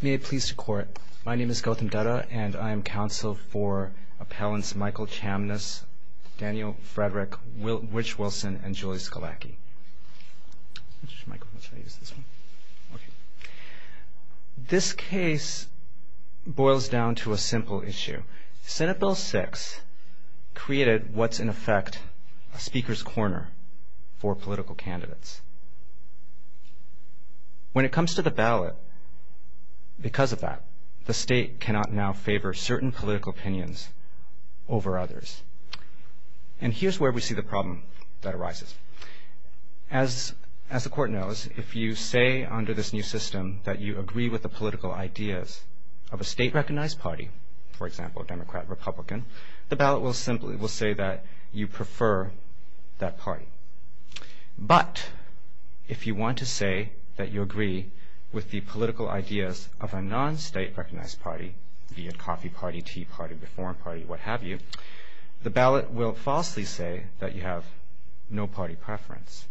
May it please the court, my name is Gautam Dutta and I am counsel for appellants Michael Chamness, Daniel Frederick, Rich Wilson, and Julie Scalacchi. This case boils down to a simple issue. Senate Bill 6 created what's in effect a speaker's corner for political candidates. When it comes to the ballot because of that, the state cannot now favor certain political opinions over others. And here's where we see the problem that arises. As the court knows if you say under this new system that you agree with the political ideas of a state recognized party, for example a democrat or republican the ballot will simply say that you prefer that party. But if you want to say that you agree with the political ideas of a non-state recognized party be it coffee party, tea party, the foreign party, what have you, the ballot will falsely say that you have no party preference.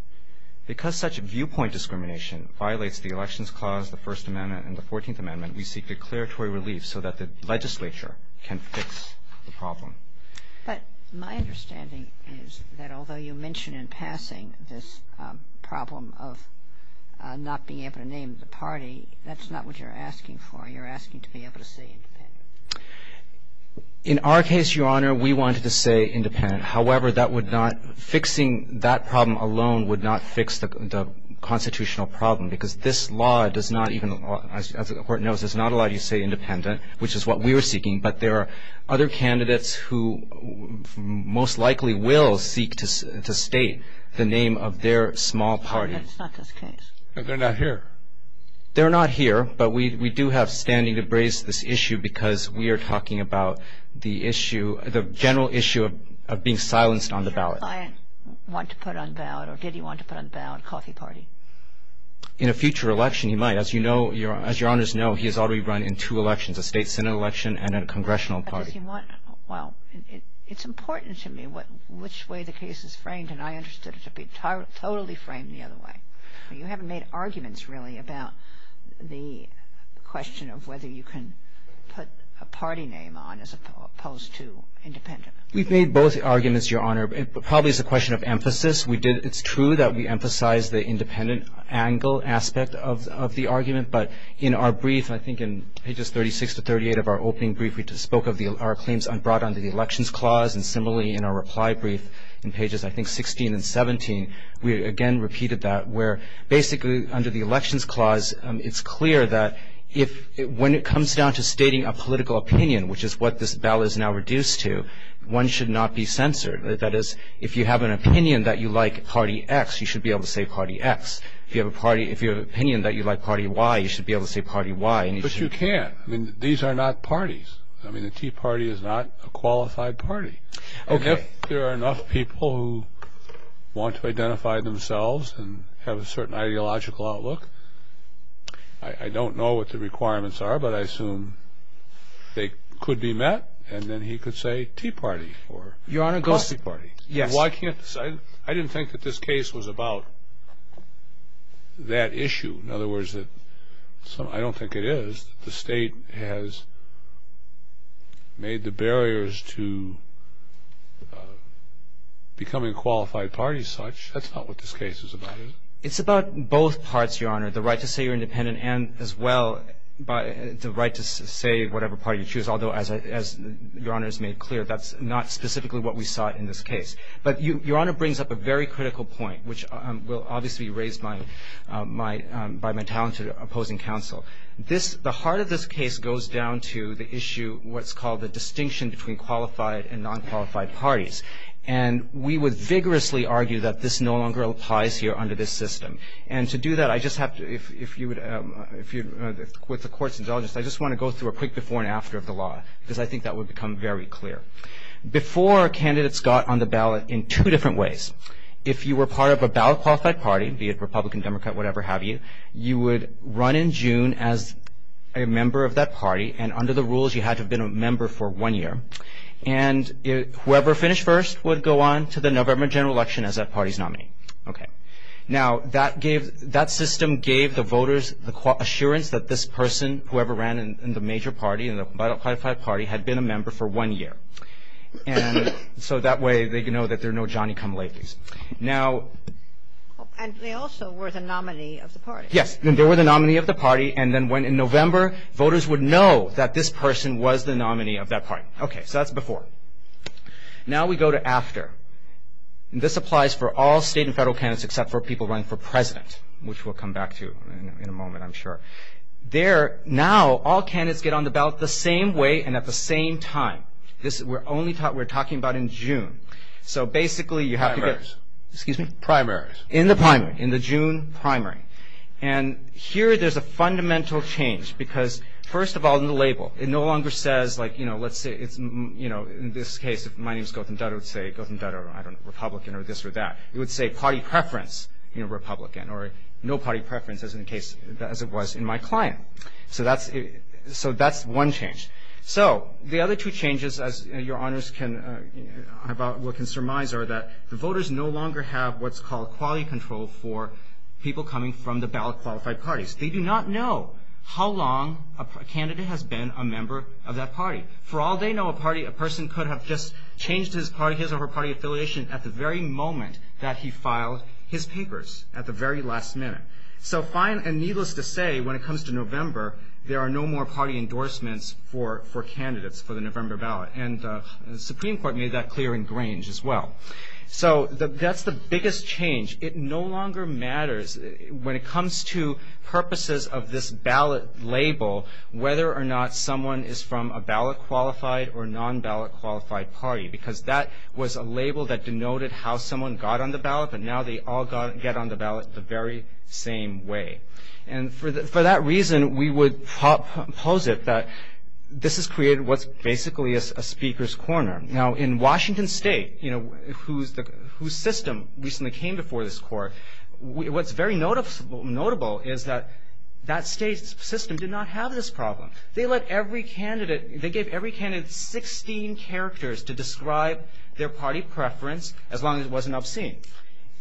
Because such viewpoint discrimination violates the elections clause, the First Amendment, and the Fourteenth Amendment, we seek declaratory relief so that the legislature can fix the problem. But my understanding is that although you mention in passing this problem of not being able to name the party, that's not what you're asking for. You're asking to be able to say independent. In our case, Your Honor, we wanted to say independent. However, that would not fixing that problem alone would not fix the constitutional problem. Because this law does not even, as the court knows, does not allow you to say independent, which is what we were seeking. But there are other candidates who most likely will seek to state the name of their small party. They're not here, but we do have standing to raise this issue because we are talking about the issue, the general issue of being silenced on the ballot. In a future election he might. As Your Honors know, he has already run in two elections, a state senate election and a congressional party. Well, it's important to me which way the case is framed, and I understood it to be totally framed the other way. You haven't made arguments, really, about the question of whether you can put a party name on as opposed to independent. We've made both arguments, Your Honor. It probably is a question of emphasis. It's true that we emphasize the independent angle aspect of the argument, but in our brief, I think in pages 36 to 38 of our opening brief, we spoke of our claims brought under the Elections Clause, and similarly in our reply brief in pages, I think, 16 and 17, we again repeated that where basically under the Elections Clause it's clear that when it comes down to stating a political opinion, which is what this ballot is now reduced to, one should not be censored. That is, if you have an opinion that you like Party X, you should be able to say Party X. If you have an opinion that you like Party Y, you should be able to say Party Y. But you can't. These are not parties. The Tea Party is not a qualified party. If there are enough people who want to identify themselves and have a certain ideological outlook, I don't know what the requirements are, but I assume they could be met, and then he could say Tea Party or Coffee Party. I didn't think that this case was about that issue. In other words, I don't think it is. The State has made the barriers to becoming qualified parties such. That's not what this case is about, is it? It's about both parts, Your Honor, the right to say you're independent and as well the right to say whatever party you choose, although as Your Honor has made clear, that's not specifically what we sought in this case. But Your Honor brings up a very critical point, which will obviously be raised by my talented opposing counsel. The heart of this case goes down to the issue, what's called the distinction between qualified and non-qualified parties. And we would vigorously argue that this no longer applies here under this system. And to do that, I just have to if you would, with the court's indulgence, I just want to go through a quick before and after of the law, because I think that would become very clear. Before our candidates got on the ballot in two different ways. If you were part of a ballot qualified party, be it Republican, Democrat, whatever have you, you would run in June as a member of that party. And under the rules, you had to have been a member for one year. And whoever finished first would go on to the November general election as that party's nominee. Okay. Now that system gave the voters the assurance that this person whoever ran in the major party, in the ballot qualified party, had been a member for one year. And so that way they could know that there are no Johnny Kamalakis. Now... And they also were the nominee of the party. Yes. They were the nominee of the party. And then when in November, voters would know that this person was the nominee of that party. Okay. So that's before. Now we go to after. This applies for all state and federal candidates except for people running for president, which we'll come back to in a moment, I'm sure. There, now, all candidates get on the ballot the same way and at the same time. This, we're only talking about in June. So basically you have to get... Primaries. Excuse me? Primaries. In the primary. In the June primary. And here there's a fundamental change because, first of all, in the label, it no longer says like, you know, let's say it's, you know, in this case, if my name's Gautam Dutta, it would say Gautam Dutta, I don't know, Republican or this or that. It would say party preference, you know, Republican. Or no party preference as in the case, as it was in my client. So that's, so that's one change. So the other two changes, as your honors can, about, what can surmise are that the voters no longer have what's called quality control for people coming from the ballot qualified parties. They do not know how long a candidate has been a member of that party. For all they know, a party, a person could have just changed his party, his or her party affiliation at the very moment that he filed his papers, at the very last minute. So the final, and needless to say, when it comes to November, there are no more party endorsements for candidates for the November ballot. And the Supreme Court made that clear in Grange as well. So that's the biggest change. It no longer matters when it comes to purposes of this ballot label, whether or not someone is from a ballot qualified or non-ballot qualified party. Because that was a label that denoted how someone got on the ballot, but now they all get on the ballot the very same way. And for that reason, we would pose it that this has created what's basically a speaker's corner. Now in Washington State, whose system recently came before this court, what's very notable is that that state's system did not have this problem. They let every candidate, they gave every candidate 16 characters to describe their party preference as long as it wasn't obscene.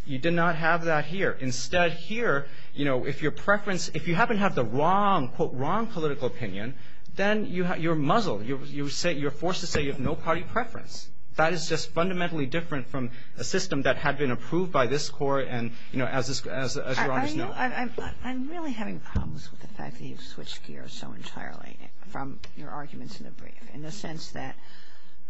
You did not have that here. Instead, here, if your preference, if you happen to have the wrong, quote, wrong political opinion, then you're muzzled. You're forced to say you have no party preference. That is just fundamentally different from a system that had been approved by this court, and as Your Honor's know. I'm really having problems with the fact that you've switched gears so entirely from your arguments in the brief. In the sense that,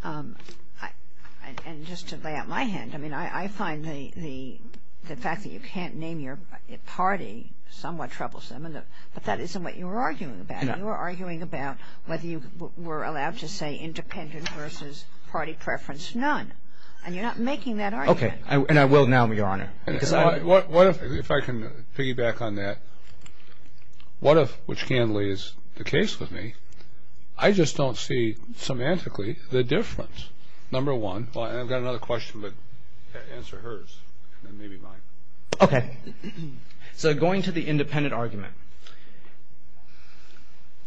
and just to lay out my hand, I mean, I find the fact that you can't name your party somewhat troublesome, but that isn't what you were arguing about. You were arguing about whether you were allowed to say independent versus party preference none, and you're not making that argument. Okay, and I will now, Your Honor. What if, if I can piggyback on that, what if, which candidly is the case with me, I just don't see semantically the difference. Number one, well, I've got another question, but answer hers, and maybe mine. Okay. So going to the independent argument,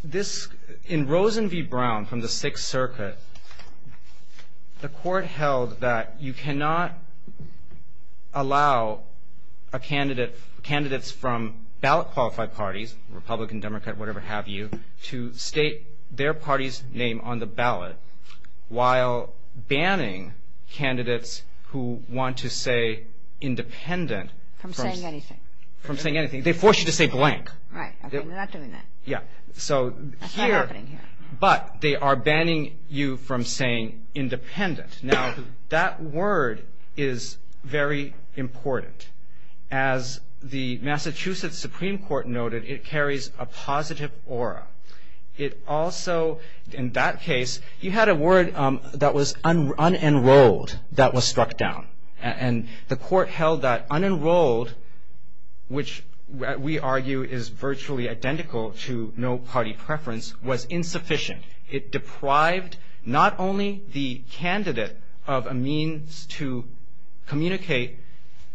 this, in Rosen v. Brown from the Sixth Circuit, the court held that you cannot allow a candidate, candidates from ballot-qualified parties, Republican, Democrat, whatever have you, to state their party's name on the ballot while banning candidates who want to say independent from saying anything. They force you to say blank. Right, okay, they're not doing that. That's not happening here. But they are banning you from saying independent. Now, that word is very important. As the Massachusetts Supreme Court noted, it carries a word that was unenrolled that was struck down. And the court held that unenrolled, which we argue is virtually identical to no-party preference, was insufficient. It deprived not only the candidate of a means to communicate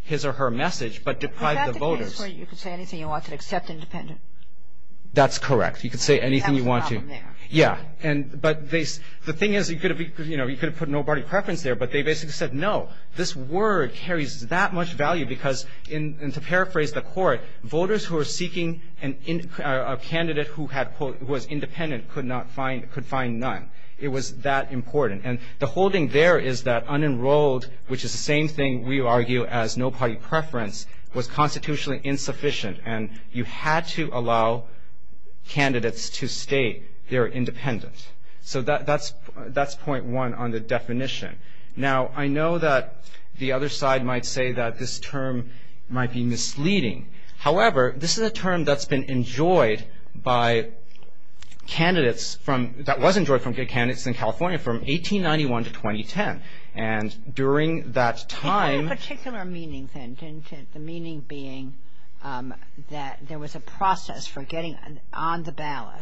his or her message, but deprived the voters. Is that the case where you can say anything you want to except independent? That's correct. You can say anything you want to. The thing is, you could have put no-party preference there, but they basically said no. This word carries that much value because, and to paraphrase the court, voters who are seeking a candidate who was independent could find none. It was that important. And the holding there is that unenrolled, which is the same thing we argue as no-party preference, was constitutionally insufficient. And you had to allow candidates to state they're independent. So that's point one on the definition. Now, I know that the other side might say that this term might be misleading. However, this is a term that's been enjoyed by candidates from, that was enjoyed by good candidates in California from 1891 to 2010. And during that time... that there was a process for getting on the ballot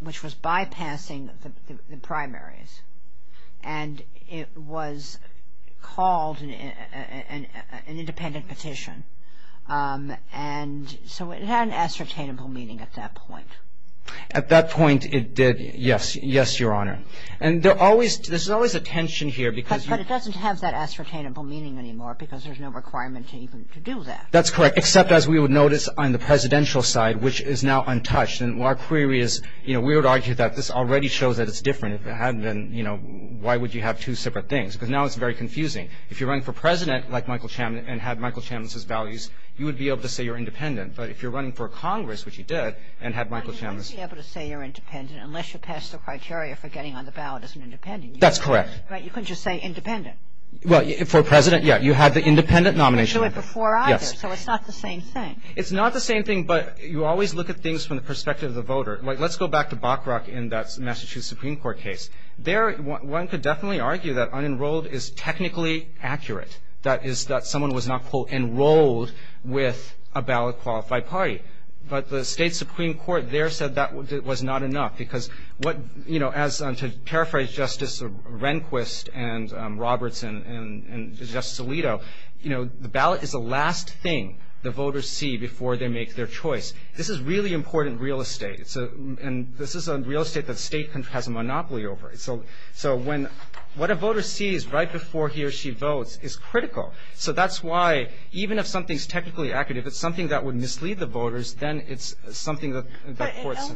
which was bypassing the primaries. And it was called an independent petition. And so it had an ascertainable meaning at that point. At that point, it did. Yes. Yes, Your Honor. And there's always a tension here because... But it doesn't have that ascertainable meaning anymore because there's no requirement to even to do that. That's correct. Except as we would notice on the presidential side, which is now untouched. And our query is, you know, we would argue that this already shows that it's different. If it hadn't been, you know, why would you have two separate things? Because now it's very confusing. If you're running for president, like Michael Chambliss, and had Michael Chambliss's values, you would be able to say you're independent. But if you're running for Congress, which you did, and had Michael Chambliss... But you couldn't be able to say you're independent unless you passed the criteria for getting on the ballot as an independent. That's correct. Right. You couldn't just say you're independent before either. Yes. So it's not the same thing. It's not the same thing, but you always look at things from the perspective of the voter. Let's go back to Buckrock in that Massachusetts Supreme Court case. There, one could definitely argue that unenrolled is technically accurate. That is, that someone was not, quote, enrolled with a ballot-qualified party. But the state Supreme Court there said that was not enough because what, you know, as to paraphrase Justice Rehnquist and Roberts and Justice Alito, you know, the ballot is the last thing the voters see before they make their choice. This is really important real estate. And this is a real estate that the state has a monopoly over. So when, what a voter sees right before he or she votes is critical. So that's why, even if something's technically accurate, if it's something that would mislead the voters, then it's something that courts...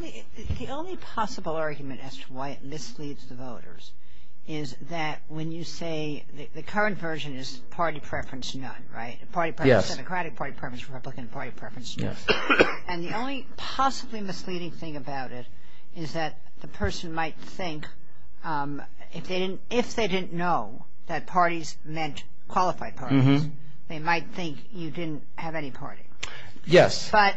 The only possible argument as to why it misleads the voters is that when you say, the current version is party preference none, right? Party preference, Democratic party preference, Republican party preference none. And the only possibly misleading thing about it is that the person might think, if they didn't know that parties meant qualified parties, they might think you didn't have any party. Yes. But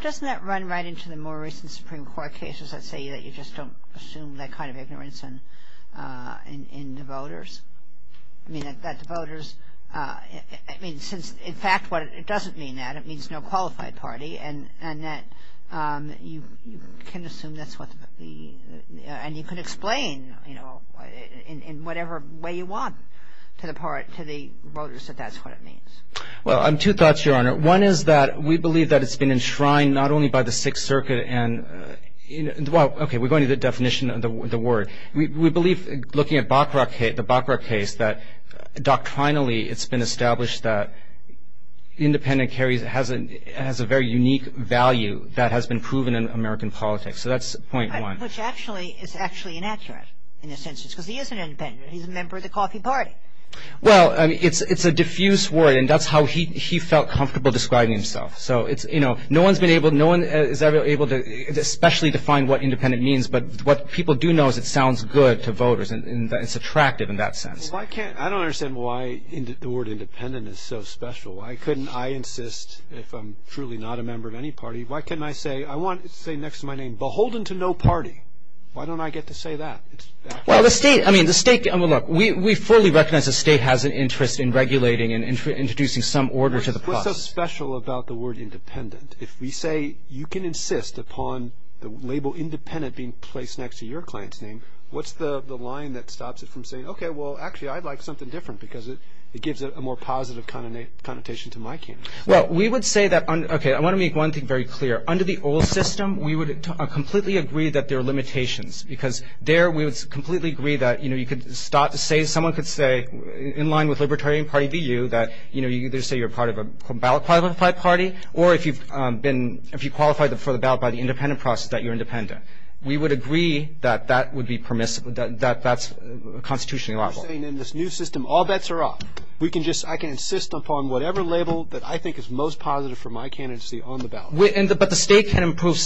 doesn't that run right into the more recent Supreme Court cases that say that you just don't assume that kind of ignorance in the voters? I mean, that the voters... I mean, since, in fact what it doesn't mean, that it means no qualified party, and that you can assume that's what the... and you can explain in whatever way you want to the voters that that's what it means. Well, two thoughts, Your Honor. One is that we believe that it's been enshrined not only by the Sixth Circuit and well, okay, we're going to the definition of the word. We believe looking at the Baccarat case, that doctrinally it's been established that independent carry has a very unique value that has been proven in American politics. So that's point one. Which actually is actually inaccurate, in a sense, because he isn't independent. He's a member of the Coffee Party. Well, it's a diffuse word and that's how he felt comfortable describing himself. So it's, you know, no one's been able to especially define what independent means, but what people do know is it sounds good to voters and it's attractive in that sense. Well, why can't... I don't understand why the word independent is so special. Why couldn't I insist if I'm truly not a member of any party, why couldn't I say... I want it to say next to my name beholden to no party. Why don't I get to say that? Well, the state I mean, the state... I mean, look, we fully recognize the state has an interest in regulating and introducing some order to the process. What's so special about the word independent? If we say you can insist upon the label independent being placed next to your client's name, what's the line that stops it from saying okay, well, actually, I'd like something different because it gives it a more positive connotation to my campaign. Well, we would say that... okay, I want to make one thing very clear. Under the old system, we would completely agree that there are limitations because there we would completely agree that, you know, you could start to say... someone could say in line with Libertarian Party v. You that, you know, you either say you're part of a ballot-qualified party or if you've been... if you qualify for the ballot by the independent process that you're independent. We would agree that that would be permissible that that's constitutionally liable. You're saying in this new system all bets are off. We can just... I can insist upon whatever label that I think is most positive for my candidacy on the ballot. But the state can impose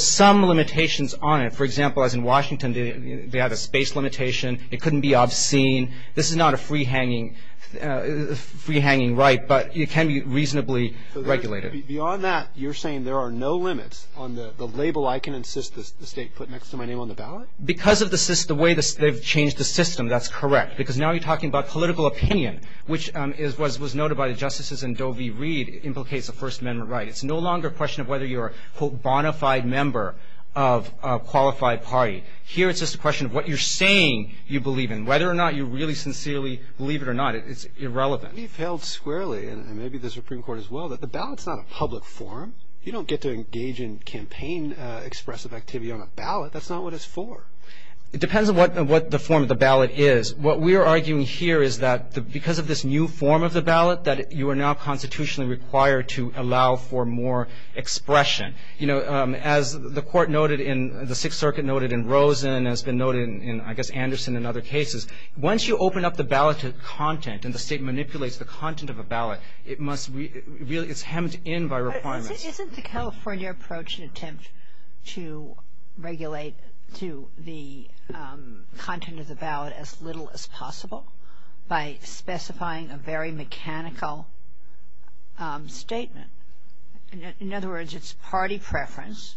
some limitations on it. For example, as in Washington, they have a space limitation free-hanging right, but it can be reasonably regulated. Beyond that, you're saying there are no limits on the label I can insist the state put next to my name on the ballot? Because of the way they've changed the system, that's correct. Because now you're talking about political opinion, which was noted by the justices in Doe v. Reed, implicates a First Amendment right. It's no longer a question of whether you're a, quote, bona fide member of a qualified party. Here it's just a question of what you're saying you believe in. Whether or not you really sincerely believe it or not, it's irrelevant. You've held squarely, and maybe the Supreme Court as well, that the ballot's not a public forum. You don't get to engage in campaign expressive activity on a ballot. That's not what it's for. It depends on what the form of the ballot is. What we're arguing here is that because of this new form of the ballot, that you are now constitutionally required to allow for more expression. As the court noted in... the Sixth Circuit noted in Rosen and has been in Anderson and other cases, once you open up the ballot to content and the state manipulates the content of a ballot, it must be... it's hemmed in by requirements. Isn't the California approach an attempt to regulate to the content of the ballot as little as possible by specifying a very mechanical statement? In other words, it's party preference,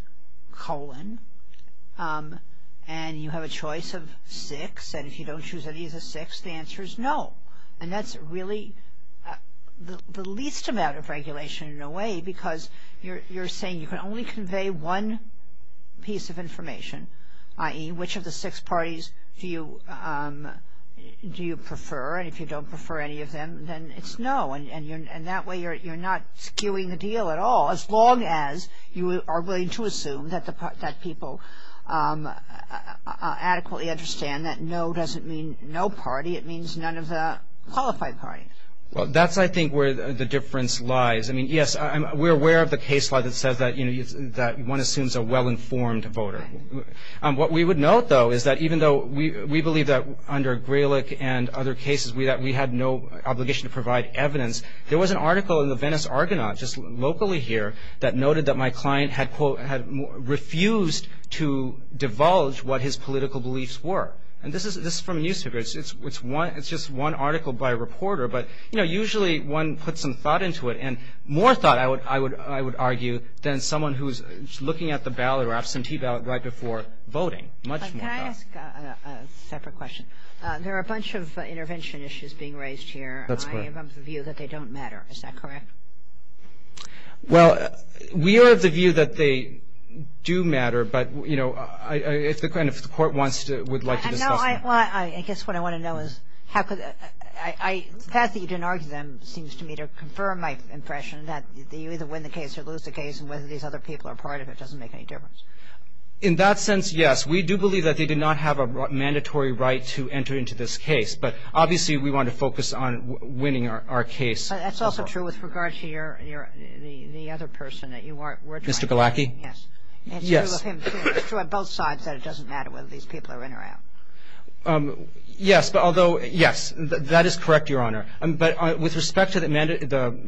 colon, and you have a choice of six, and if you don't choose any of the six, the answer is no. That's really the least amount of regulation in a way because you're saying you can only convey one piece of information, i.e., which of the six parties do you prefer, and if you don't prefer any of them, then it's no, and that way you're not skewing the deal at all as long as you are willing to assume that people adequately understand that no doesn't mean no party. It means none of the qualified parties. Well, that's, I think, where the difference lies. I mean, yes, we're aware of the case law that says that one assumes a well-informed voter. What we would note, though, is that even though we believe that under Grelick and other cases we had no obligation to provide evidence, there was an article in the Venice Argonaut just locally here that noted that my client had, quote, refused to divulge what his political beliefs were, and this is from a newspaper. It's just one article by a reporter, but, you know, usually one puts some thought into it, and more thought, I would argue, than someone who's looking at the ballot or absentee ballot right before voting, much more thought. Can I ask a separate question? There are a bunch of intervention issues being discussed in this case, and they don't matter. Is that correct? Well, we are of the view that they do matter, but, you know, if the Court wants to, would like to discuss them. I guess what I want to know is how could the – the fact that you didn't argue them seems to me to confirm my impression that you either win the case or lose the case, and whether these other people are part of it doesn't make any difference. In that sense, yes. We do believe that they do not have a mandatory right to enter into this case, but obviously we want to focus on winning our case. But that's also true with regard to your – the other person that you weren't trying to win. Mr. Galacki? Yes. It's true of him. It's true on both sides that it doesn't matter whether these people are in or out. Yes, but although – yes, that is correct, Your Honor. But with respect to the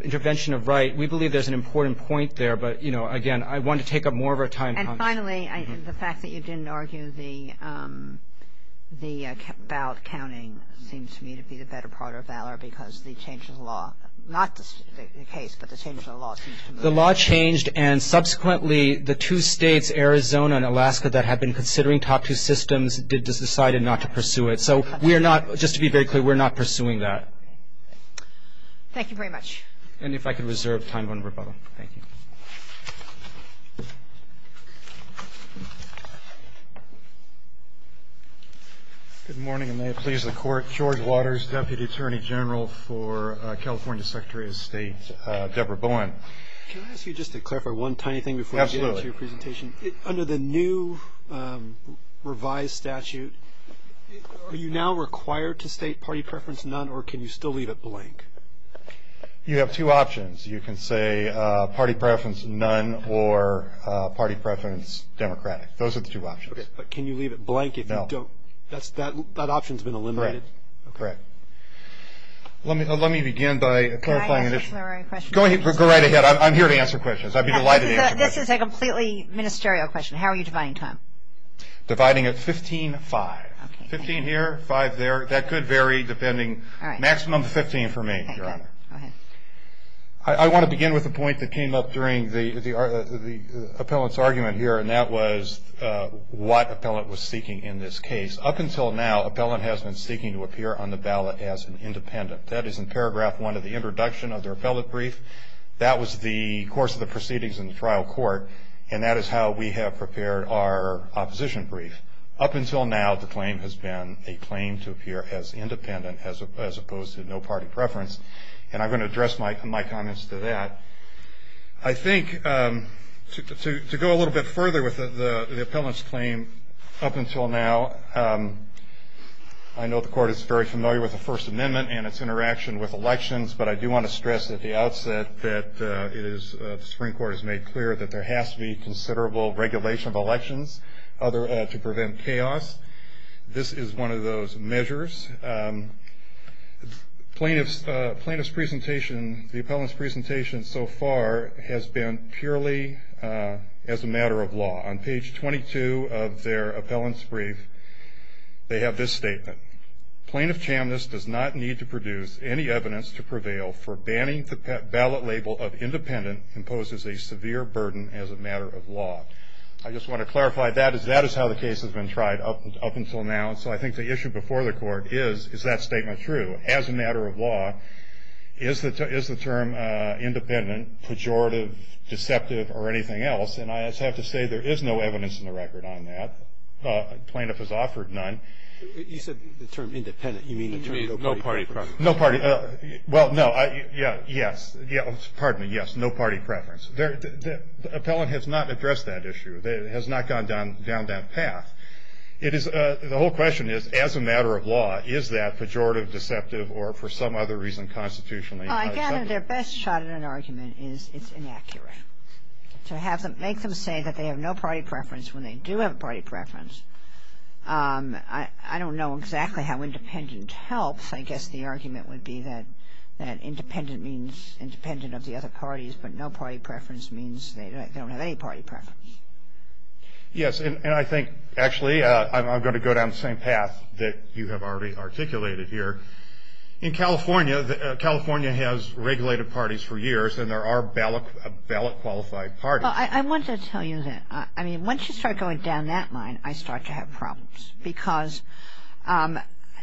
intervention of right, we believe there's an important point there, but, you know, again, I want to take up more of our time. And finally, the fact that you didn't argue the – the ballot counting seems to me to be the better part of valor because the change in the law – not the case, but the change in the law – The law changed, and subsequently the two states, Arizona and Alaska, that had been considering top two systems decided not to pursue it. So we are not – just to be very clear, we are not pursuing that. Thank you very much. And if I could reserve time for rebuttal. Thank you. Good morning, and may it please the Court. George Waters, Deputy Attorney General for California Secretary of State. Deborah Bowen. Can I ask you just to clarify one tiny thing before I get into your presentation? Absolutely. Under the new revised statute, are you now required to state party preference, none, or can you still leave it blank? You have two options. You can say party preference, none, or party preference, Democratic. Those are the two options. But can you leave it blank if you don't – that option's been eliminated. Correct. Let me begin by clarifying – Can I ask a clarifying question? Go right ahead. I'm here to answer questions. I'd be delighted to answer questions. This is a completely ministerial question. How are you dividing time? Dividing it 15-5. 15 here, 5 there. That could vary depending – maximum 15 for me, Your Honor. I want to begin with a point that came up during the appellant's argument here, and that was what appellant was seeking in this case. Up until now, appellant has been seeking to appear on the ballot as an independent. That is in paragraph 1 of the introduction of their appellate brief. That was the course of the proceedings in the trial court, and that is how we have prepared our opposition brief. Up until now, the claim has been a claim to appear as independent as opposed to no party preference. And I'm going to address my comments to that. I think to go a little bit further with the appellant's claim, up until now, I know the Court is very familiar with the First Amendment and its interaction with elections, but I do want to stress at the outset that the Supreme Court has made clear that there has to be considerable regulation of elections to prevent chaos. This is one of those measures. Plaintiff's presentation, the appellant's presentation so far, has been purely as a matter of law. On page 22 of their appellant's brief, they have this statement. Plaintiff Chambliss does not need to produce any evidence to prevail for banning the ballot label of independent imposes a severe burden as a matter of law. I just want to clarify that, as that is how the case has been tried up until now. So I think the issue before the Court is, is that statement true? As a matter of law, is the term independent, pejorative, deceptive or anything else? And I just have to say there is no evidence in the record on that. Plaintiff has offered none. You said the term independent. You mean the term no party preference? No party. Well, no. Yes. Pardon me. Yes. No party preference. The appellant has not addressed that issue. It has not gone down that path. The whole question is, as a matter of law, is that pejorative, deceptive or for some other reason constitutionally not accepted? I gather their best shot at an argument is it's inaccurate. To make them say that they have no party preference when they do have a party preference, I don't know exactly how independent helps. I guess the argument would be that independent means independent of the other parties, but no party preference means they don't have any party preference. Yes. And I think, actually, I'm going to go down the same path that you have already articulated here. In California, California has regulated parties for years and there are ballot qualified parties. I want to tell you that, I mean, once you start going down that line, I start to have problems because I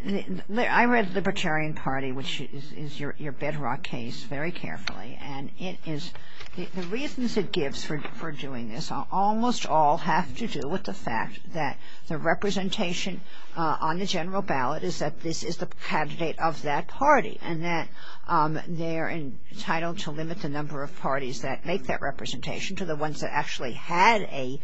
read the Libertarian Party, which is your bedrock case very carefully and it is, the reasons it gives for doing this almost all have to do with the fact that the representation on the general ballot is that this is the candidate of that party and that they're entitled to limit the number of parties that make that representation to the ones that actually had a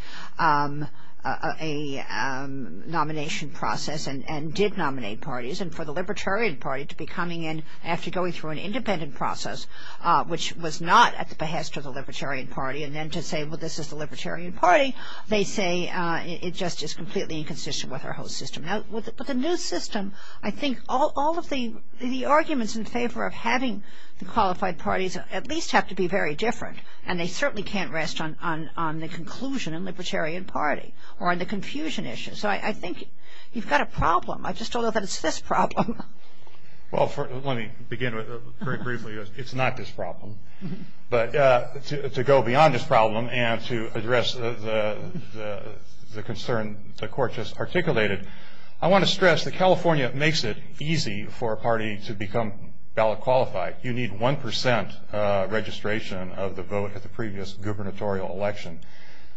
nomination process and did nominate parties and for the Libertarian Party to be coming in after going through an independent process, which was not at the behest of the Libertarian Party and then to say, well, this is the Libertarian Party, they say it just is completely inconsistent with our whole system. Now, with the new system, I think all of the arguments in favor of having the qualified parties at least have to be very different and they certainly can't rest on the conclusion in Libertarian Party or on the confusion issues. I think you've got a problem. I just don't know that it's this problem. Well, let me begin with, very briefly, it's not this problem. But to go beyond this problem and to address the concern the Court just articulated, I want to stress that California makes it easy for a party to become ballot qualified. You need one percent registration of the vote at the previous gubernatorial election.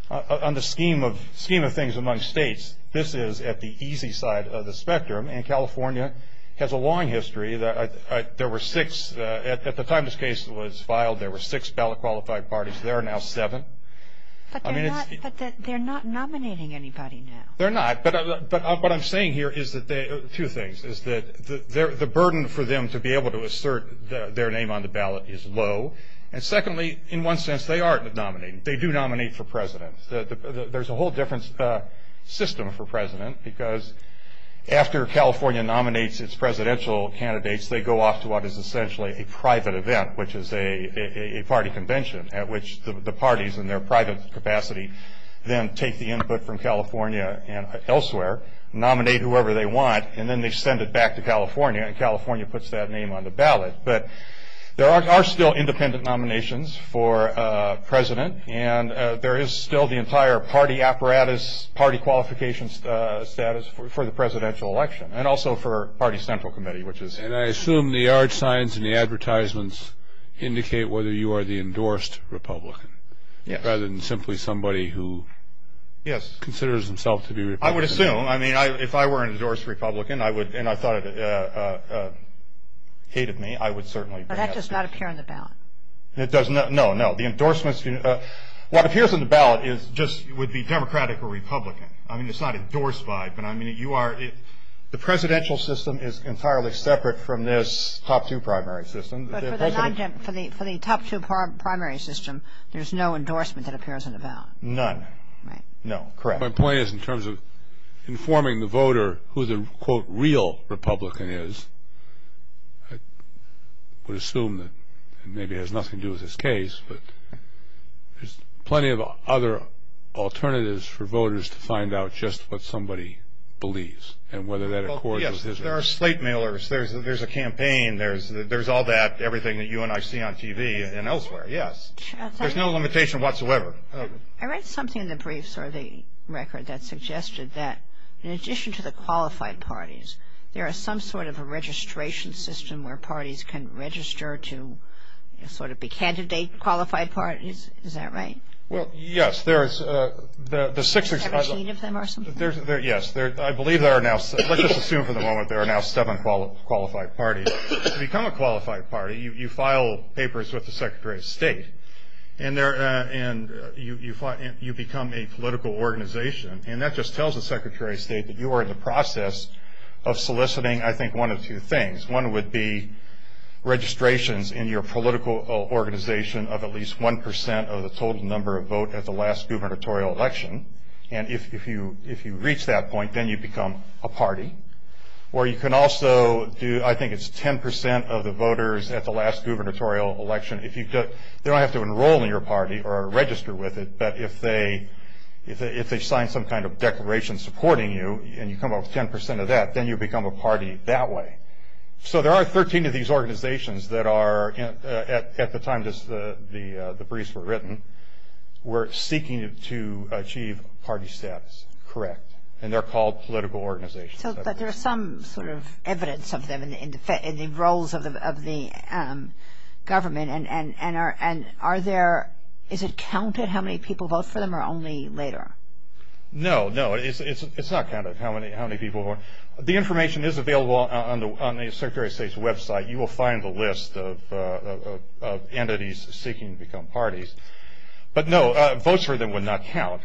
On the scheme of things among states, this is at the easy side of the spectrum and California has a long history. There were six at the time this case was filed, there were six ballot qualified parties. There are now seven. But they're not nominating anybody now. They're not. But what I'm saying here is that the burden for them to be able to assert their name on the ballot is low. And secondly, in one sense, they are nominating. They do nominate for president. There's a whole different system for president because after California nominates its presidential candidates, they go off to what is essentially a private event, which is a party convention, at which the parties in their private capacity then take the input from California and elsewhere, nominate whoever they want, and then they send it back to California and California puts that name on the ballot. But there are still independent nominations for president and there is still the entire party apparatus, party qualification status for the presidential election and also for party central committee, which is... And I assume the orange signs in the advertisements indicate whether you are the endorsed Republican, rather than simply somebody who considers himself to be a Republican. I would assume. I mean, if I were an endorsed Republican, and I thought it hated me, I would certainly... But that does not appear on the ballot. It does not. No, no. The endorsements... What appears on the ballot just would be Democratic or Republican. I mean, it's not endorsed by, but I mean you are... The presidential system is entirely separate from this top two primary system. But for the top two primary system, there is no endorsement that appears on the ballot. None. Right. No. Correct. My point is in terms of informing the voter who the quote, real Republican is, I would assume that maybe it has nothing to do with this case, but there's plenty of other alternatives for voters to find out There are slate mailers. There's a campaign. There's all that, everything that you and I see on TV and elsewhere. Yes. There's no limitation whatsoever. I read something in the briefs or the record that suggested that in addition to the qualified parties, there are some sort of registration system where parties can register to sort of be candidate qualified parties. Is that right? Well, yes. There's... There's 17 of them or something? Yes. I believe there are now... Let's just assume for the moment there are now seven qualified parties. To become a qualified party, you file papers with the Secretary of State. And you become a political organization. And that just tells the Secretary of State that you are in the process of soliciting, I think, one of two things. One would be registrations in your political organization of at least 1% of the total number of votes at the last gubernatorial election. And if you reach that point, then you become a party. Or you can also do... I think it's 10% of the voters at the last gubernatorial election. They don't have to enroll in your party or register with it, but if they sign some kind of declaration supporting you, and you come up with 10% of that, then you become a party that way. So there are 13 of these organizations that are at the time the briefs were written were seeking to achieve party status. Correct. And they're called political organizations. So there's some sort of evidence of them in the roles of the government and are there... Is it counted how many people vote for them or only later? No, no. It's not counted how many people... The information is available on the Secretary of State's website. You will find the list of entities seeking to become parties. But no, votes for them would not count.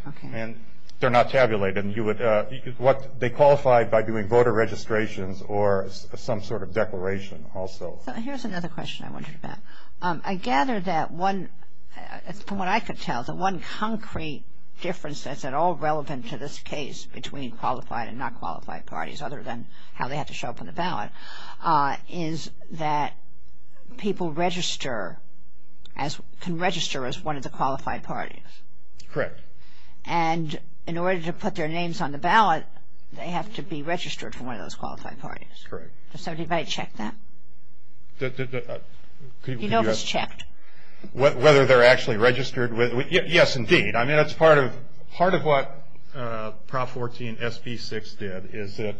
They're not tabulated. They qualify by doing voter registrations or some sort of declaration also. Here's another question I wondered about. I gather that one... From what I could tell, the one concrete difference that's at all relevant to this case between qualified and not qualified parties, other than how they have to show up in the ballot, is that people can register as one of the qualified parties. Correct. And in order to put their names on the ballot they have to be registered for one of those qualified parties. Correct. Has anybody checked that? Whether they're actually registered with... Yes, indeed. I mean that's part of what Prop 14 SB 6 did is that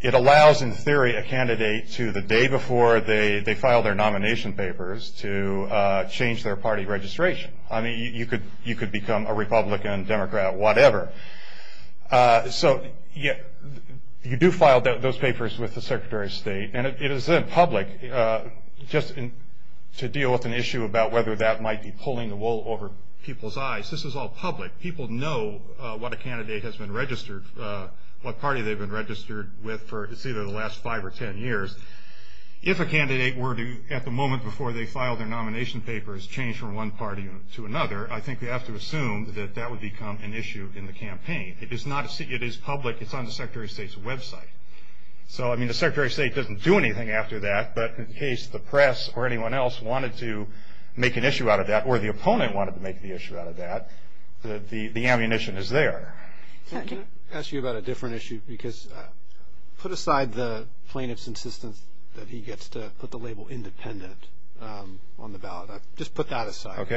it allows in theory a candidate to the day before they file their nomination papers to change their party registration. I mean you could become a Republican, Democrat, whatever. So you do file those papers with the Secretary of State and it is then public just to deal with an issue about whether that might be pulling the wool over people's eyes. This is all public. People know what a candidate has been registered, what party they've been registered with for it's either the last 5 or 10 years. If a candidate were to at the moment before they filed their nomination papers change from one party to another, I think they have to assume that that would become an issue in the campaign. It is public. It's on the Secretary of State's website. So I mean the Secretary of State doesn't do anything after that, but in case the press or anyone else wanted to make an issue out of that, or the opponent wanted to make the issue out of that, the ammunition is there. Can I ask you about a different issue? Because put aside the plaintiff's insistence that he gets to put the label independent on the ballot. Just put that aside.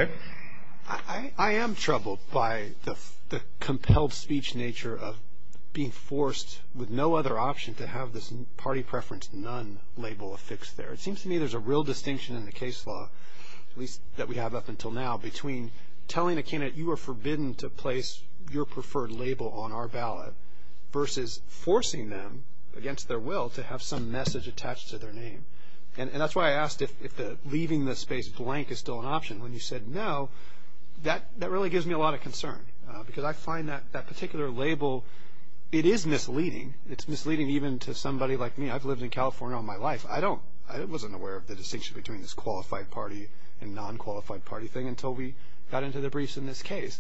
I am troubled by the compelled speech nature of being forced with no other option to have this party preference none label affixed there. It seems to me there's a real distinction in the case law, at least that we have up until now, between telling a candidate you are forbidden to place your preferred label on our ballot versus forcing them against their will to have some message attached to their name. And that's why I asked if leaving the space blank is still an option. When you said no, that really gives me a lot of concern. Because I find that particular label it is misleading. It's misleading even to somebody like me. I've lived in California all my life. I wasn't aware of the distinction between this qualified party and non-qualified party thing until we got into the briefs in this case.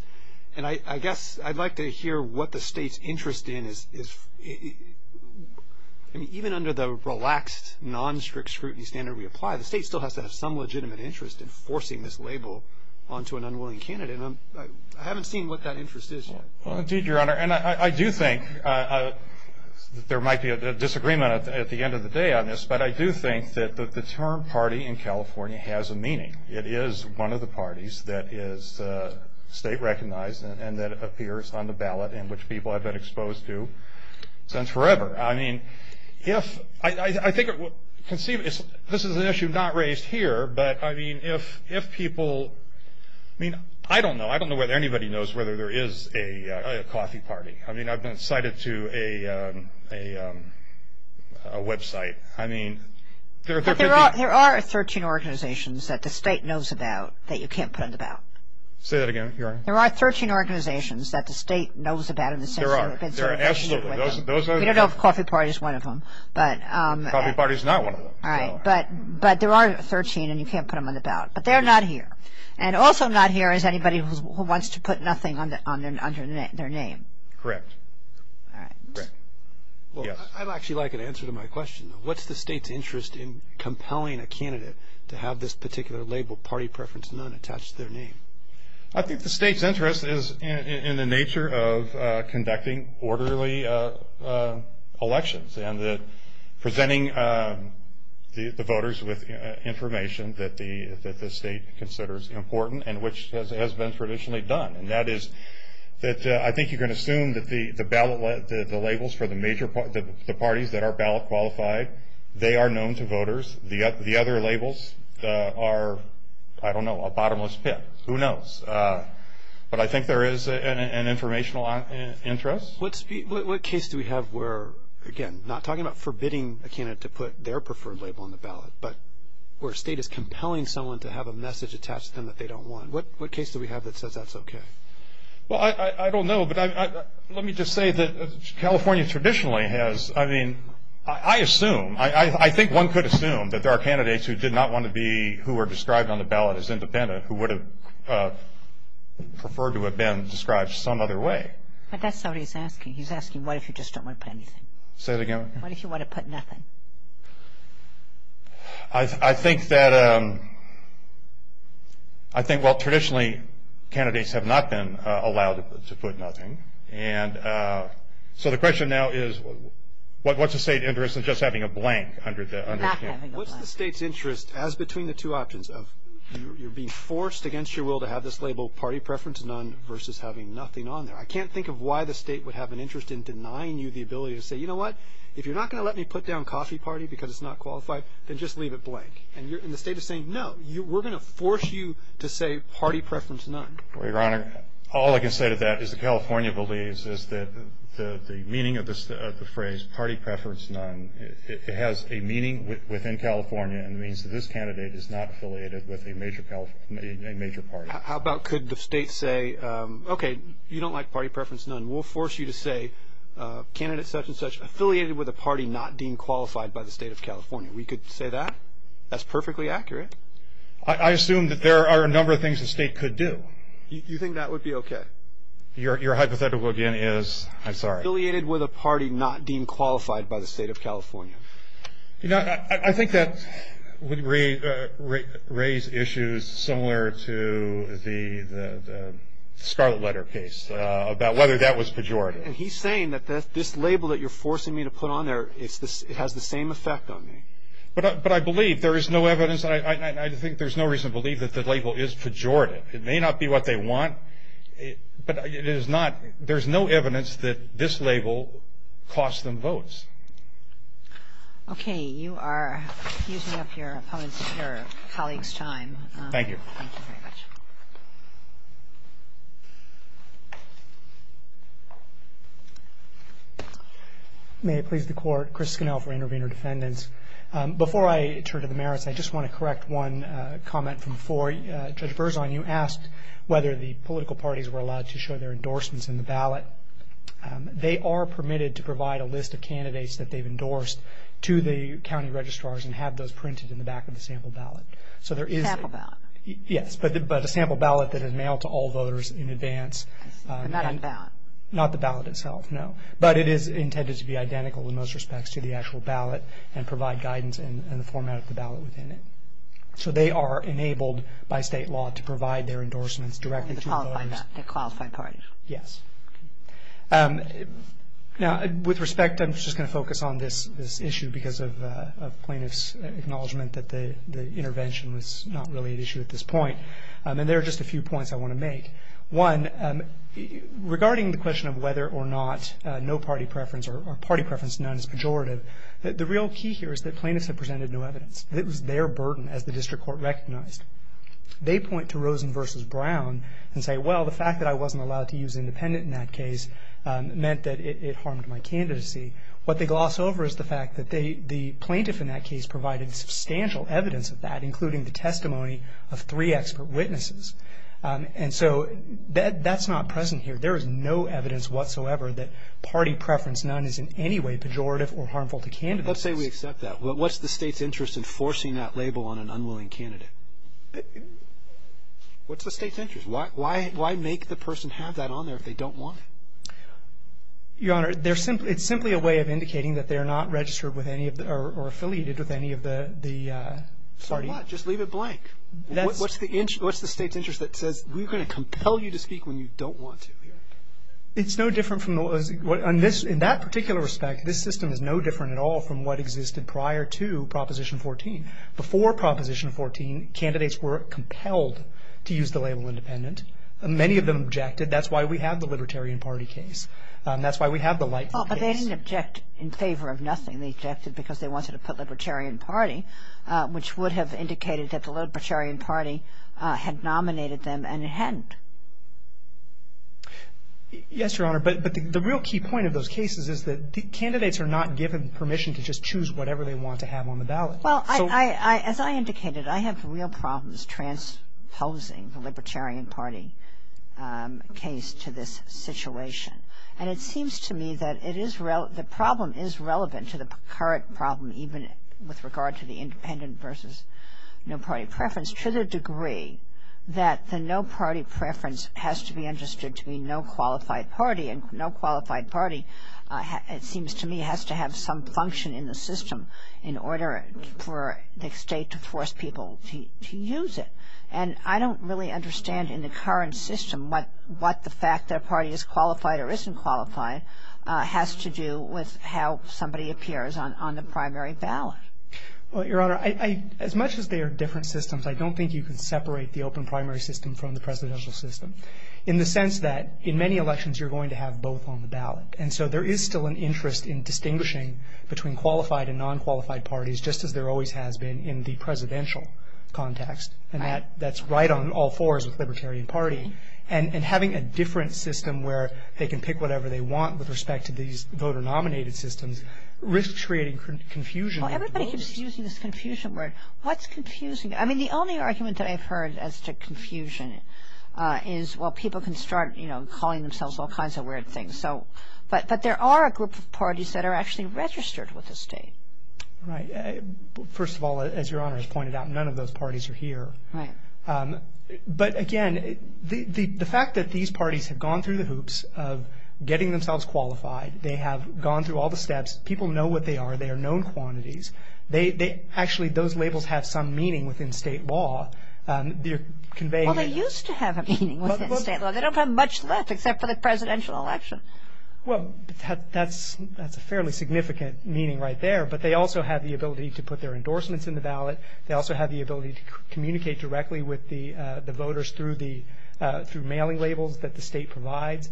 And I guess I'd like to hear what the state's interest in is even under the relaxed non-strict scrutiny standard we apply, the state still has to have some legitimate interest in forcing this label onto an unwilling candidate. And I haven't seen what that interest is yet. Indeed, Your Honor. And I do think there might be a disagreement at the end of the day on this. But I do think that the term party in California has a meaning. It is one of the parties that is state-recognized and that appears on the ballot in which people have been exposed to since forever. This is an issue not raised here, but if people I don't know if anybody knows whether there is a coffee party. I've been cited to a website. There are 13 organizations that the state knows about that you can't put on the ballot. Say that again, Your Honor. There are 13 organizations that the state knows about. We don't know if coffee party is one of them. But there are 13 and you can't put them on the ballot. But they're not here. And also not here is anybody who wants to put nothing under their name. Correct. I'd actually like an answer to my question. What's the state's interest in compelling a candidate to have this particular label party preference none attached to their name? I think the state's interest is in the nature of conducting orderly elections and presenting the voters with information that the state considers important and which has been traditionally done. And that is that I think you can assume that the ballot labels for the parties that are ballot qualified they are known to voters. The other labels are I don't know, a bottomless pit. Who knows. But I think there is an informational interest. What case do we have where, again, not talking about forbidding a candidate to put their preferred label on the ballot, but where a state is compelling someone to have a message attached to them that they don't want. What case do we have that says that's okay? I don't know. But let me just say that California traditionally has, I mean, I assume, I think one could assume that there are candidates who did not want to be, who were described on the ballot as independent who would have preferred to have been described some other way. But that's what he's asking. He's asking what if you just don't want to put anything? What if you want to put nothing? I think that, I think, well traditionally candidates have not been allowed to put nothing. And so the question now is what's the state's interest in just having a blank? What's the state's interest, as between the two options, of you're being forced against your will to have this label party preference none versus having nothing on there. I can't think of why the state would have an interest in denying you the ability to say, you know what, if you're not going to let me put down coffee party because it's not qualified, then just leave it blank. And the state is saying, no. We're going to force you to say party preference none. Well, your honor, all I can say to that is that California believes that the meaning of the phrase party preference none has a meaning within California and means that this candidate is not affiliated with a major party. How about could the state say okay, you don't like party preference none. We'll force you to say candidates such and such affiliated with a party not deemed qualified by the state of California. We could say that? That's perfectly accurate. I assume that there are a number of things the state could do. You think that would be okay? Your hypothetical again is, I'm sorry. Affiliated with a party not deemed qualified by the state of California. You know, I think that would raise issues similar to the Scarlet Letter case about whether that was pejorative. And he's saying that this label that you're forcing me to put on there has the same effect on me. But I believe there is no evidence, and I think there's no reason to believe that the label is pejorative. It may not be what they want, but it is not, there's no evidence that this label costs them votes. Okay. You are using up your opponent's, your colleague's time. Thank you. Thank you very much. May it please the Court. Chris Scannell for Intervenor Defendant. Before I turn to the merits, I just want to correct one comment from before. Judge Berzon, you asked whether the political parties were allowed to show their endorsements in the ballot. They are permitted to provide a list of candidates that they've endorsed to the county registrars and have those printed in the back of the sample ballot. Sample ballot? Yes. But a sample ballot that is mailed to all voters in advance. Not on the ballot? Not the ballot itself, no. But it is intended to be identical in most cases, to provide guidance in the format of the ballot within it. So they are enabled by state law to provide their endorsements directly to voters. To the qualified party? Yes. Now, with respect, I'm just going to focus on this issue because of plaintiff's acknowledgement that the intervention was not really an issue at this point. And there are just a few points I want to make. One, regarding the question of whether or not no party preference or party preference none is pejorative. The real key here is that plaintiffs have presented no evidence. It was their burden, as the district court recognized. They point to Rosen v. Brown and say, well, the fact that I wasn't allowed to use independent in that case meant that it harmed my candidacy. What they gloss over is the fact that the plaintiff in that case provided substantial evidence of that, including the testimony of three expert witnesses. And so that's not present here. There is no evidence whatsoever that is pejorative or harmful to candidacy. Let's say we accept that. But what's the State's interest in forcing that label on an unwilling candidate? What's the State's interest? Why make the person have that on there if they don't want it? Your Honor, it's simply a way of indicating that they're not registered with any of the or affiliated with any of the party. So what? Just leave it blank. What's the State's interest that says we're going to compel you to speak when you don't want to? It's no different from in that particular respect, this system is no different at all from what existed prior to Proposition 14. Before Proposition 14, candidates were compelled to use the label independent. Many of them objected. That's why we have the Libertarian Party case. That's why we have the Lightfoot case. But they didn't object in favor of nothing. They objected because they wanted to put Libertarian Party, which would have indicated that the Libertarian Party had nominated them, and it hadn't. Yes, Your Honor, but the real key point of those cases is that candidates are not given permission to just choose whatever they want to have on the ballot. Well, as I indicated, I have real problems transposing the Libertarian Party case to this situation. And it seems to me that the problem is relevant to the current problem even with regard to the independent versus no party preference to the degree that the no party preference has to be understood to be no qualified party. And no qualified party it seems to me has to have some function in the system in order for the State to force people to use it. And I don't really understand in the current system what the fact their party is qualified or isn't qualified has to do with how somebody appears on the primary ballot. Well, Your Honor, as much as they are different systems, I don't think you can separate the system in the sense that in many elections you're going to have both on the ballot. And so there is still an interest in distinguishing between qualified and non-qualified parties just as there always has been in the presidential context. And that's right on all fours with Libertarian Party. And having a different system where they can pick whatever they want with respect to these voter-nominated systems risks creating confusion. Well, everybody keeps using this confusion word. What's confusing? I mean, the only argument that I've heard as to confusion is, well, people can start, you know, calling themselves all kinds of weird things. But there are a group of parties that are actually registered with the State. Right. First of all, as Your Honor has pointed out, none of those parties are here. Right. But again, the fact that these parties have gone through the hoops of getting themselves qualified, they have gone through all the steps, people know what they are, they are known quantities, actually those labels have some meaning within State law. They are conveying... Well, they used to have a meaning within State law. They don't have much left except for the presidential election. Well, that's a fairly significant meaning right there. But they also have the ability to put their endorsements in the ballot. They also have the ability to communicate directly with the voters through mailing labels that the State provides.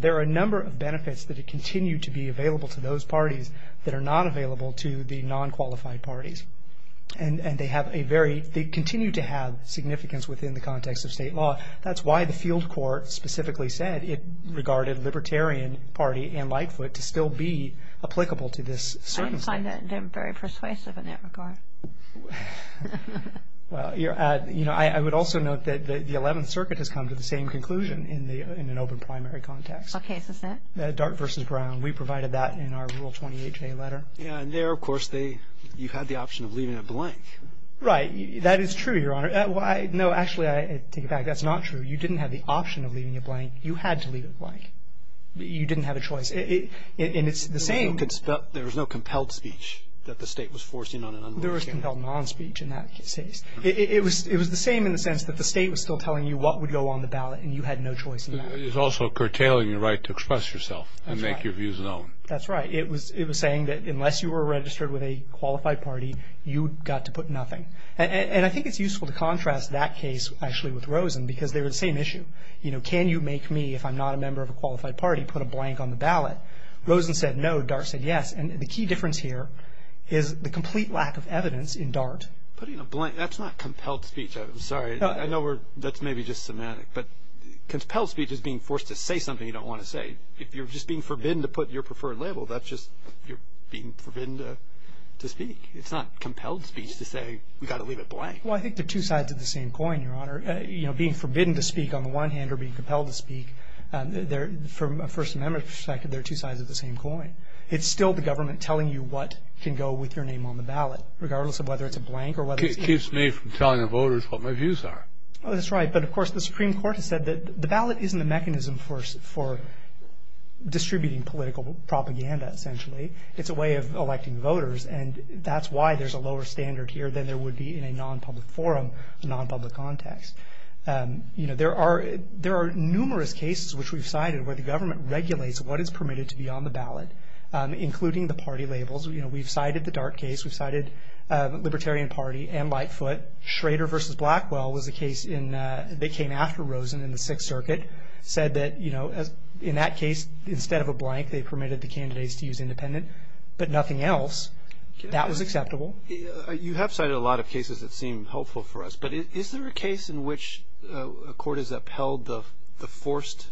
There are a number of benefits that continue to be available to those parties that are not available to the non-qualified parties. And they have a very... they continue to have significance within the context of State law. That's why the field court specifically said it regarded Libertarian Party and Lightfoot to still be applicable to this circumstance. I find them very persuasive in that regard. Well, I would also note that the 11th Circuit has come to the same conclusion in an open primary context. What case is that? Dart v. Brown. We provided that in our Rule 28J letter. Yeah, and there, of course, you had the option of leaving it blank. Right. That is true, Your Honor. No, actually, I take it back. That's not true. You didn't have the option of leaving it blank. You had to leave it blank. You didn't have a choice. And it's the same... There was no compelled speech that the State was forcing on an unlawful candidate. There was compelled non-speech in that case. It was the same in the sense that the State was still telling you what would go on the ballot, and you had no choice in that. It was also curtailing your right to express yourself and make your views known. That's right. It was saying that unless you were registered with a qualified party, you got to put nothing. And I think it's useful to contrast that case, actually, with Rosen, because they were the same issue. You know, can you make me, if I'm not a member of a qualified party, put a blank on the ballot? Rosen said no. Dart said yes. And the key difference here is the complete lack of evidence in Dart. Putting a blank. That's not compelled speech. I'm sorry. I know that's maybe just semantic. But compelled speech is being forced to say something you don't want to say. If you're just being forbidden to put your preferred label, that's just you're being forbidden to speak. It's not compelled speech to say we've got to leave it blank. Well, I think they're two sides of the same coin, Your Honor. You know, being forbidden to speak, on the one hand, or being compelled to speak, from a First Amendment perspective, they're two sides of the same coin. It's still the government telling you what can go with your name on the ballot, regardless of whether it's a blank or whether it's a blank. It keeps me from telling the voters what my views are. Oh, that's right. But, of course, the Supreme Court has said that the ballot isn't a mechanism for distributing political propaganda, essentially. It's a way of electing voters. And that's why there's a lower standard here than there would be in a non-public forum, a non-public context. You know, there are numerous cases which we've cited where the government regulates what is permitted to be on the ballot, including the party labels. You know, we've cited the Dart case. We've cited Libertarian Party and Lightfoot. But Schrader v. Blackwell was a case in they came after Rosen in the Sixth Circuit, said that, you know, in that case, instead of a blank, they permitted the candidates to use independent, but nothing else. That was acceptable. You have cited a lot of cases that seem helpful for us, but is there a case in which a court has upheld the forced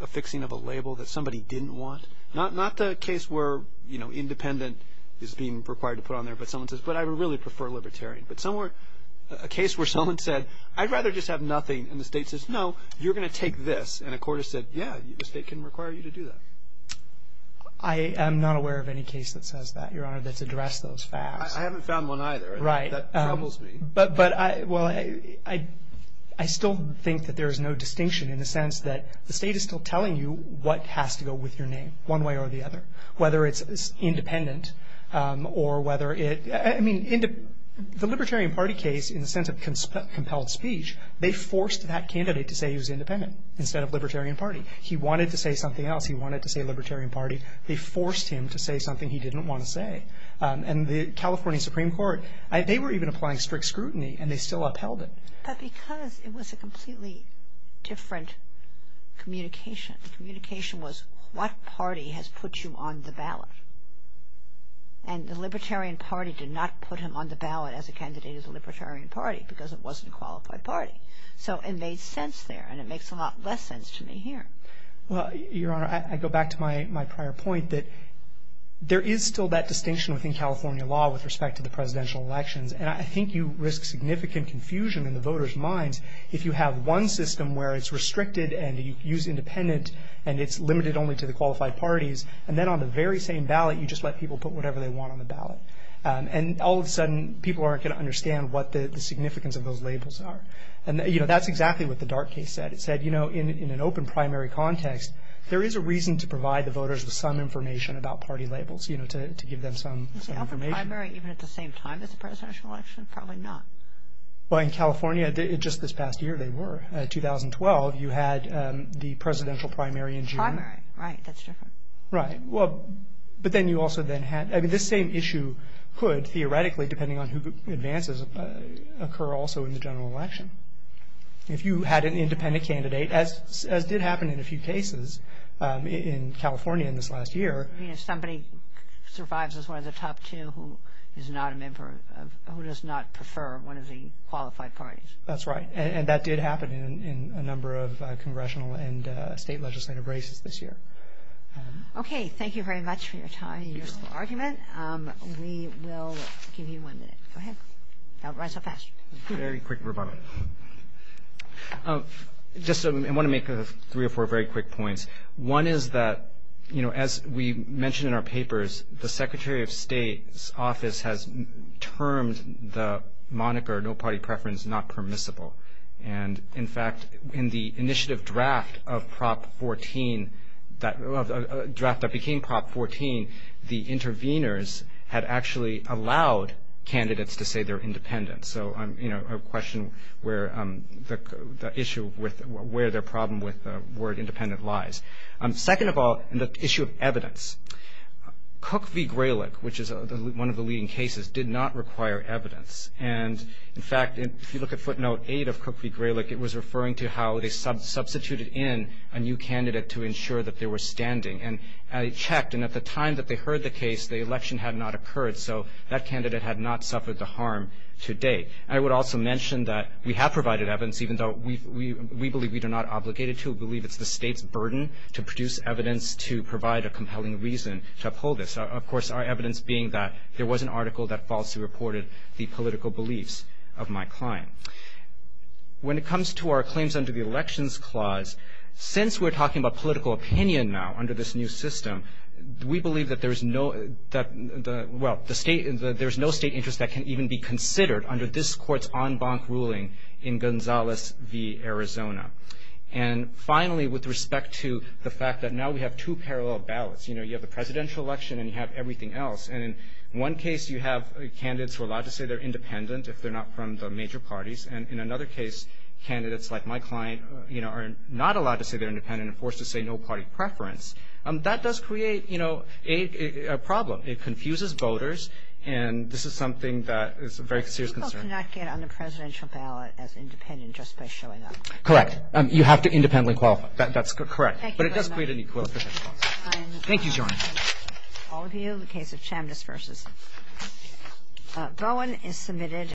affixing of a label that somebody didn't want? Not the case where, you know, independent is being required to put on there, but someone says, but I really prefer libertarian. But somewhere, a case where someone said, I'd rather just have nothing, and the state says, no, you're going to take this. And a court has said, yeah, the state can require you to do that. I am not aware of any case that says that, Your Honor, that's addressed those facts. I haven't found one either. Right. That troubles me. But I still think that there is no distinction in the sense that the state is still telling you what has to go with your name, one way or the other, whether it's independent or whether it – I mean, the Libertarian Party case, in the sense of compelled speech, they forced that candidate to say he was independent instead of Libertarian Party. He wanted to say something else. He wanted to say Libertarian Party. They forced him to say something he didn't want to say. And the California Supreme Court, they were even applying strict scrutiny, and they still upheld it. But because it was a completely different communication. The communication was what party has put you on the ballot. And the Libertarian Party did not put him on the ballot as a candidate of the Libertarian Party because it wasn't a qualified party. So it made sense there, and it makes a lot less sense to me here. Well, Your Honor, I go back to my prior point that there is still that distinction within California law with respect to the presidential elections, and I think you risk significant confusion in the voters' minds if you have one system where it's restricted and you use independent and it's limited only to the qualified parties, and then on the very same ballot you just let people put whatever they want on the ballot. And all of a sudden people aren't going to understand what the significance of those labels are. And, you know, that's exactly what the Dart case said. It said, you know, in an open primary context, there is a reason to provide the voters with some information about party labels, you know, to give them some information. Is the open primary even at the same time as the presidential election? Probably not. Well, in California just this past year they were. In 2012 you had the presidential primary in June. Primary, right, that's different. Right. Well, but then you also then had, I mean, this same issue could theoretically, depending on who advances, occur also in the general election. If you had an independent candidate, as did happen in a few cases in California in this last year. Somebody survives as one of the top two who is not a member of, who does not prefer one of the qualified parties. That's right. And that did happen in a number of congressional and state legislative races this year. Okay. Thank you very much for your time and your argument. We will give you one minute. Go ahead. Don't run so fast. Very quick rebuttal. Just I want to make three or four very quick points. One is that, you know, as we mentioned in our papers, the Secretary of State's office has termed the moniker no party preference not permissible. And, in fact, in the initiative draft of Prop 14, a draft that became Prop 14, the interveners had actually allowed candidates to say they're independent. So, you know, a question where the issue with where their problem with the word independent lies. Second of all, the issue of evidence. Cook v. Graylick, which is one of the leading cases, did not require evidence. And, in fact, if you look at footnote eight of Cook v. Graylick, it was referring to how they substituted in a new candidate to ensure that they were standing. And it checked. And at the time that they heard the case, the election had not occurred. So that candidate had not suffered the harm to date. I would also mention that we have provided evidence, even though we believe we are not obligated to. We believe it's the state's burden to produce evidence to provide a compelling reason to uphold this. Of course, our evidence being that there was an article that falsely reported the political beliefs of my client. When it comes to our claims under the Elections Clause, since we're talking about political opinion now under this new system, we believe that there is no state interest that can even be considered under this court's en banc ruling in Gonzalez v. Arizona. And, finally, with respect to the fact that now we have two parallel ballots, you know, you have the presidential election and you have everything else. And in one case, you have candidates who are allowed to say they're independent if they're not from the major parties. And in another case, candidates like my client, you know, are not allowed to say they're independent and forced to say no party preference. That does create, you know, a problem. It confuses voters. And this is something that is a very serious concern. People cannot get on the presidential ballot as independent just by showing up. Correct. You have to independently qualify. That's correct. Thank you very much. But it does create an equilibrium. Thank you, John. All of you in the case of Chambliss v. Bowen is submitted.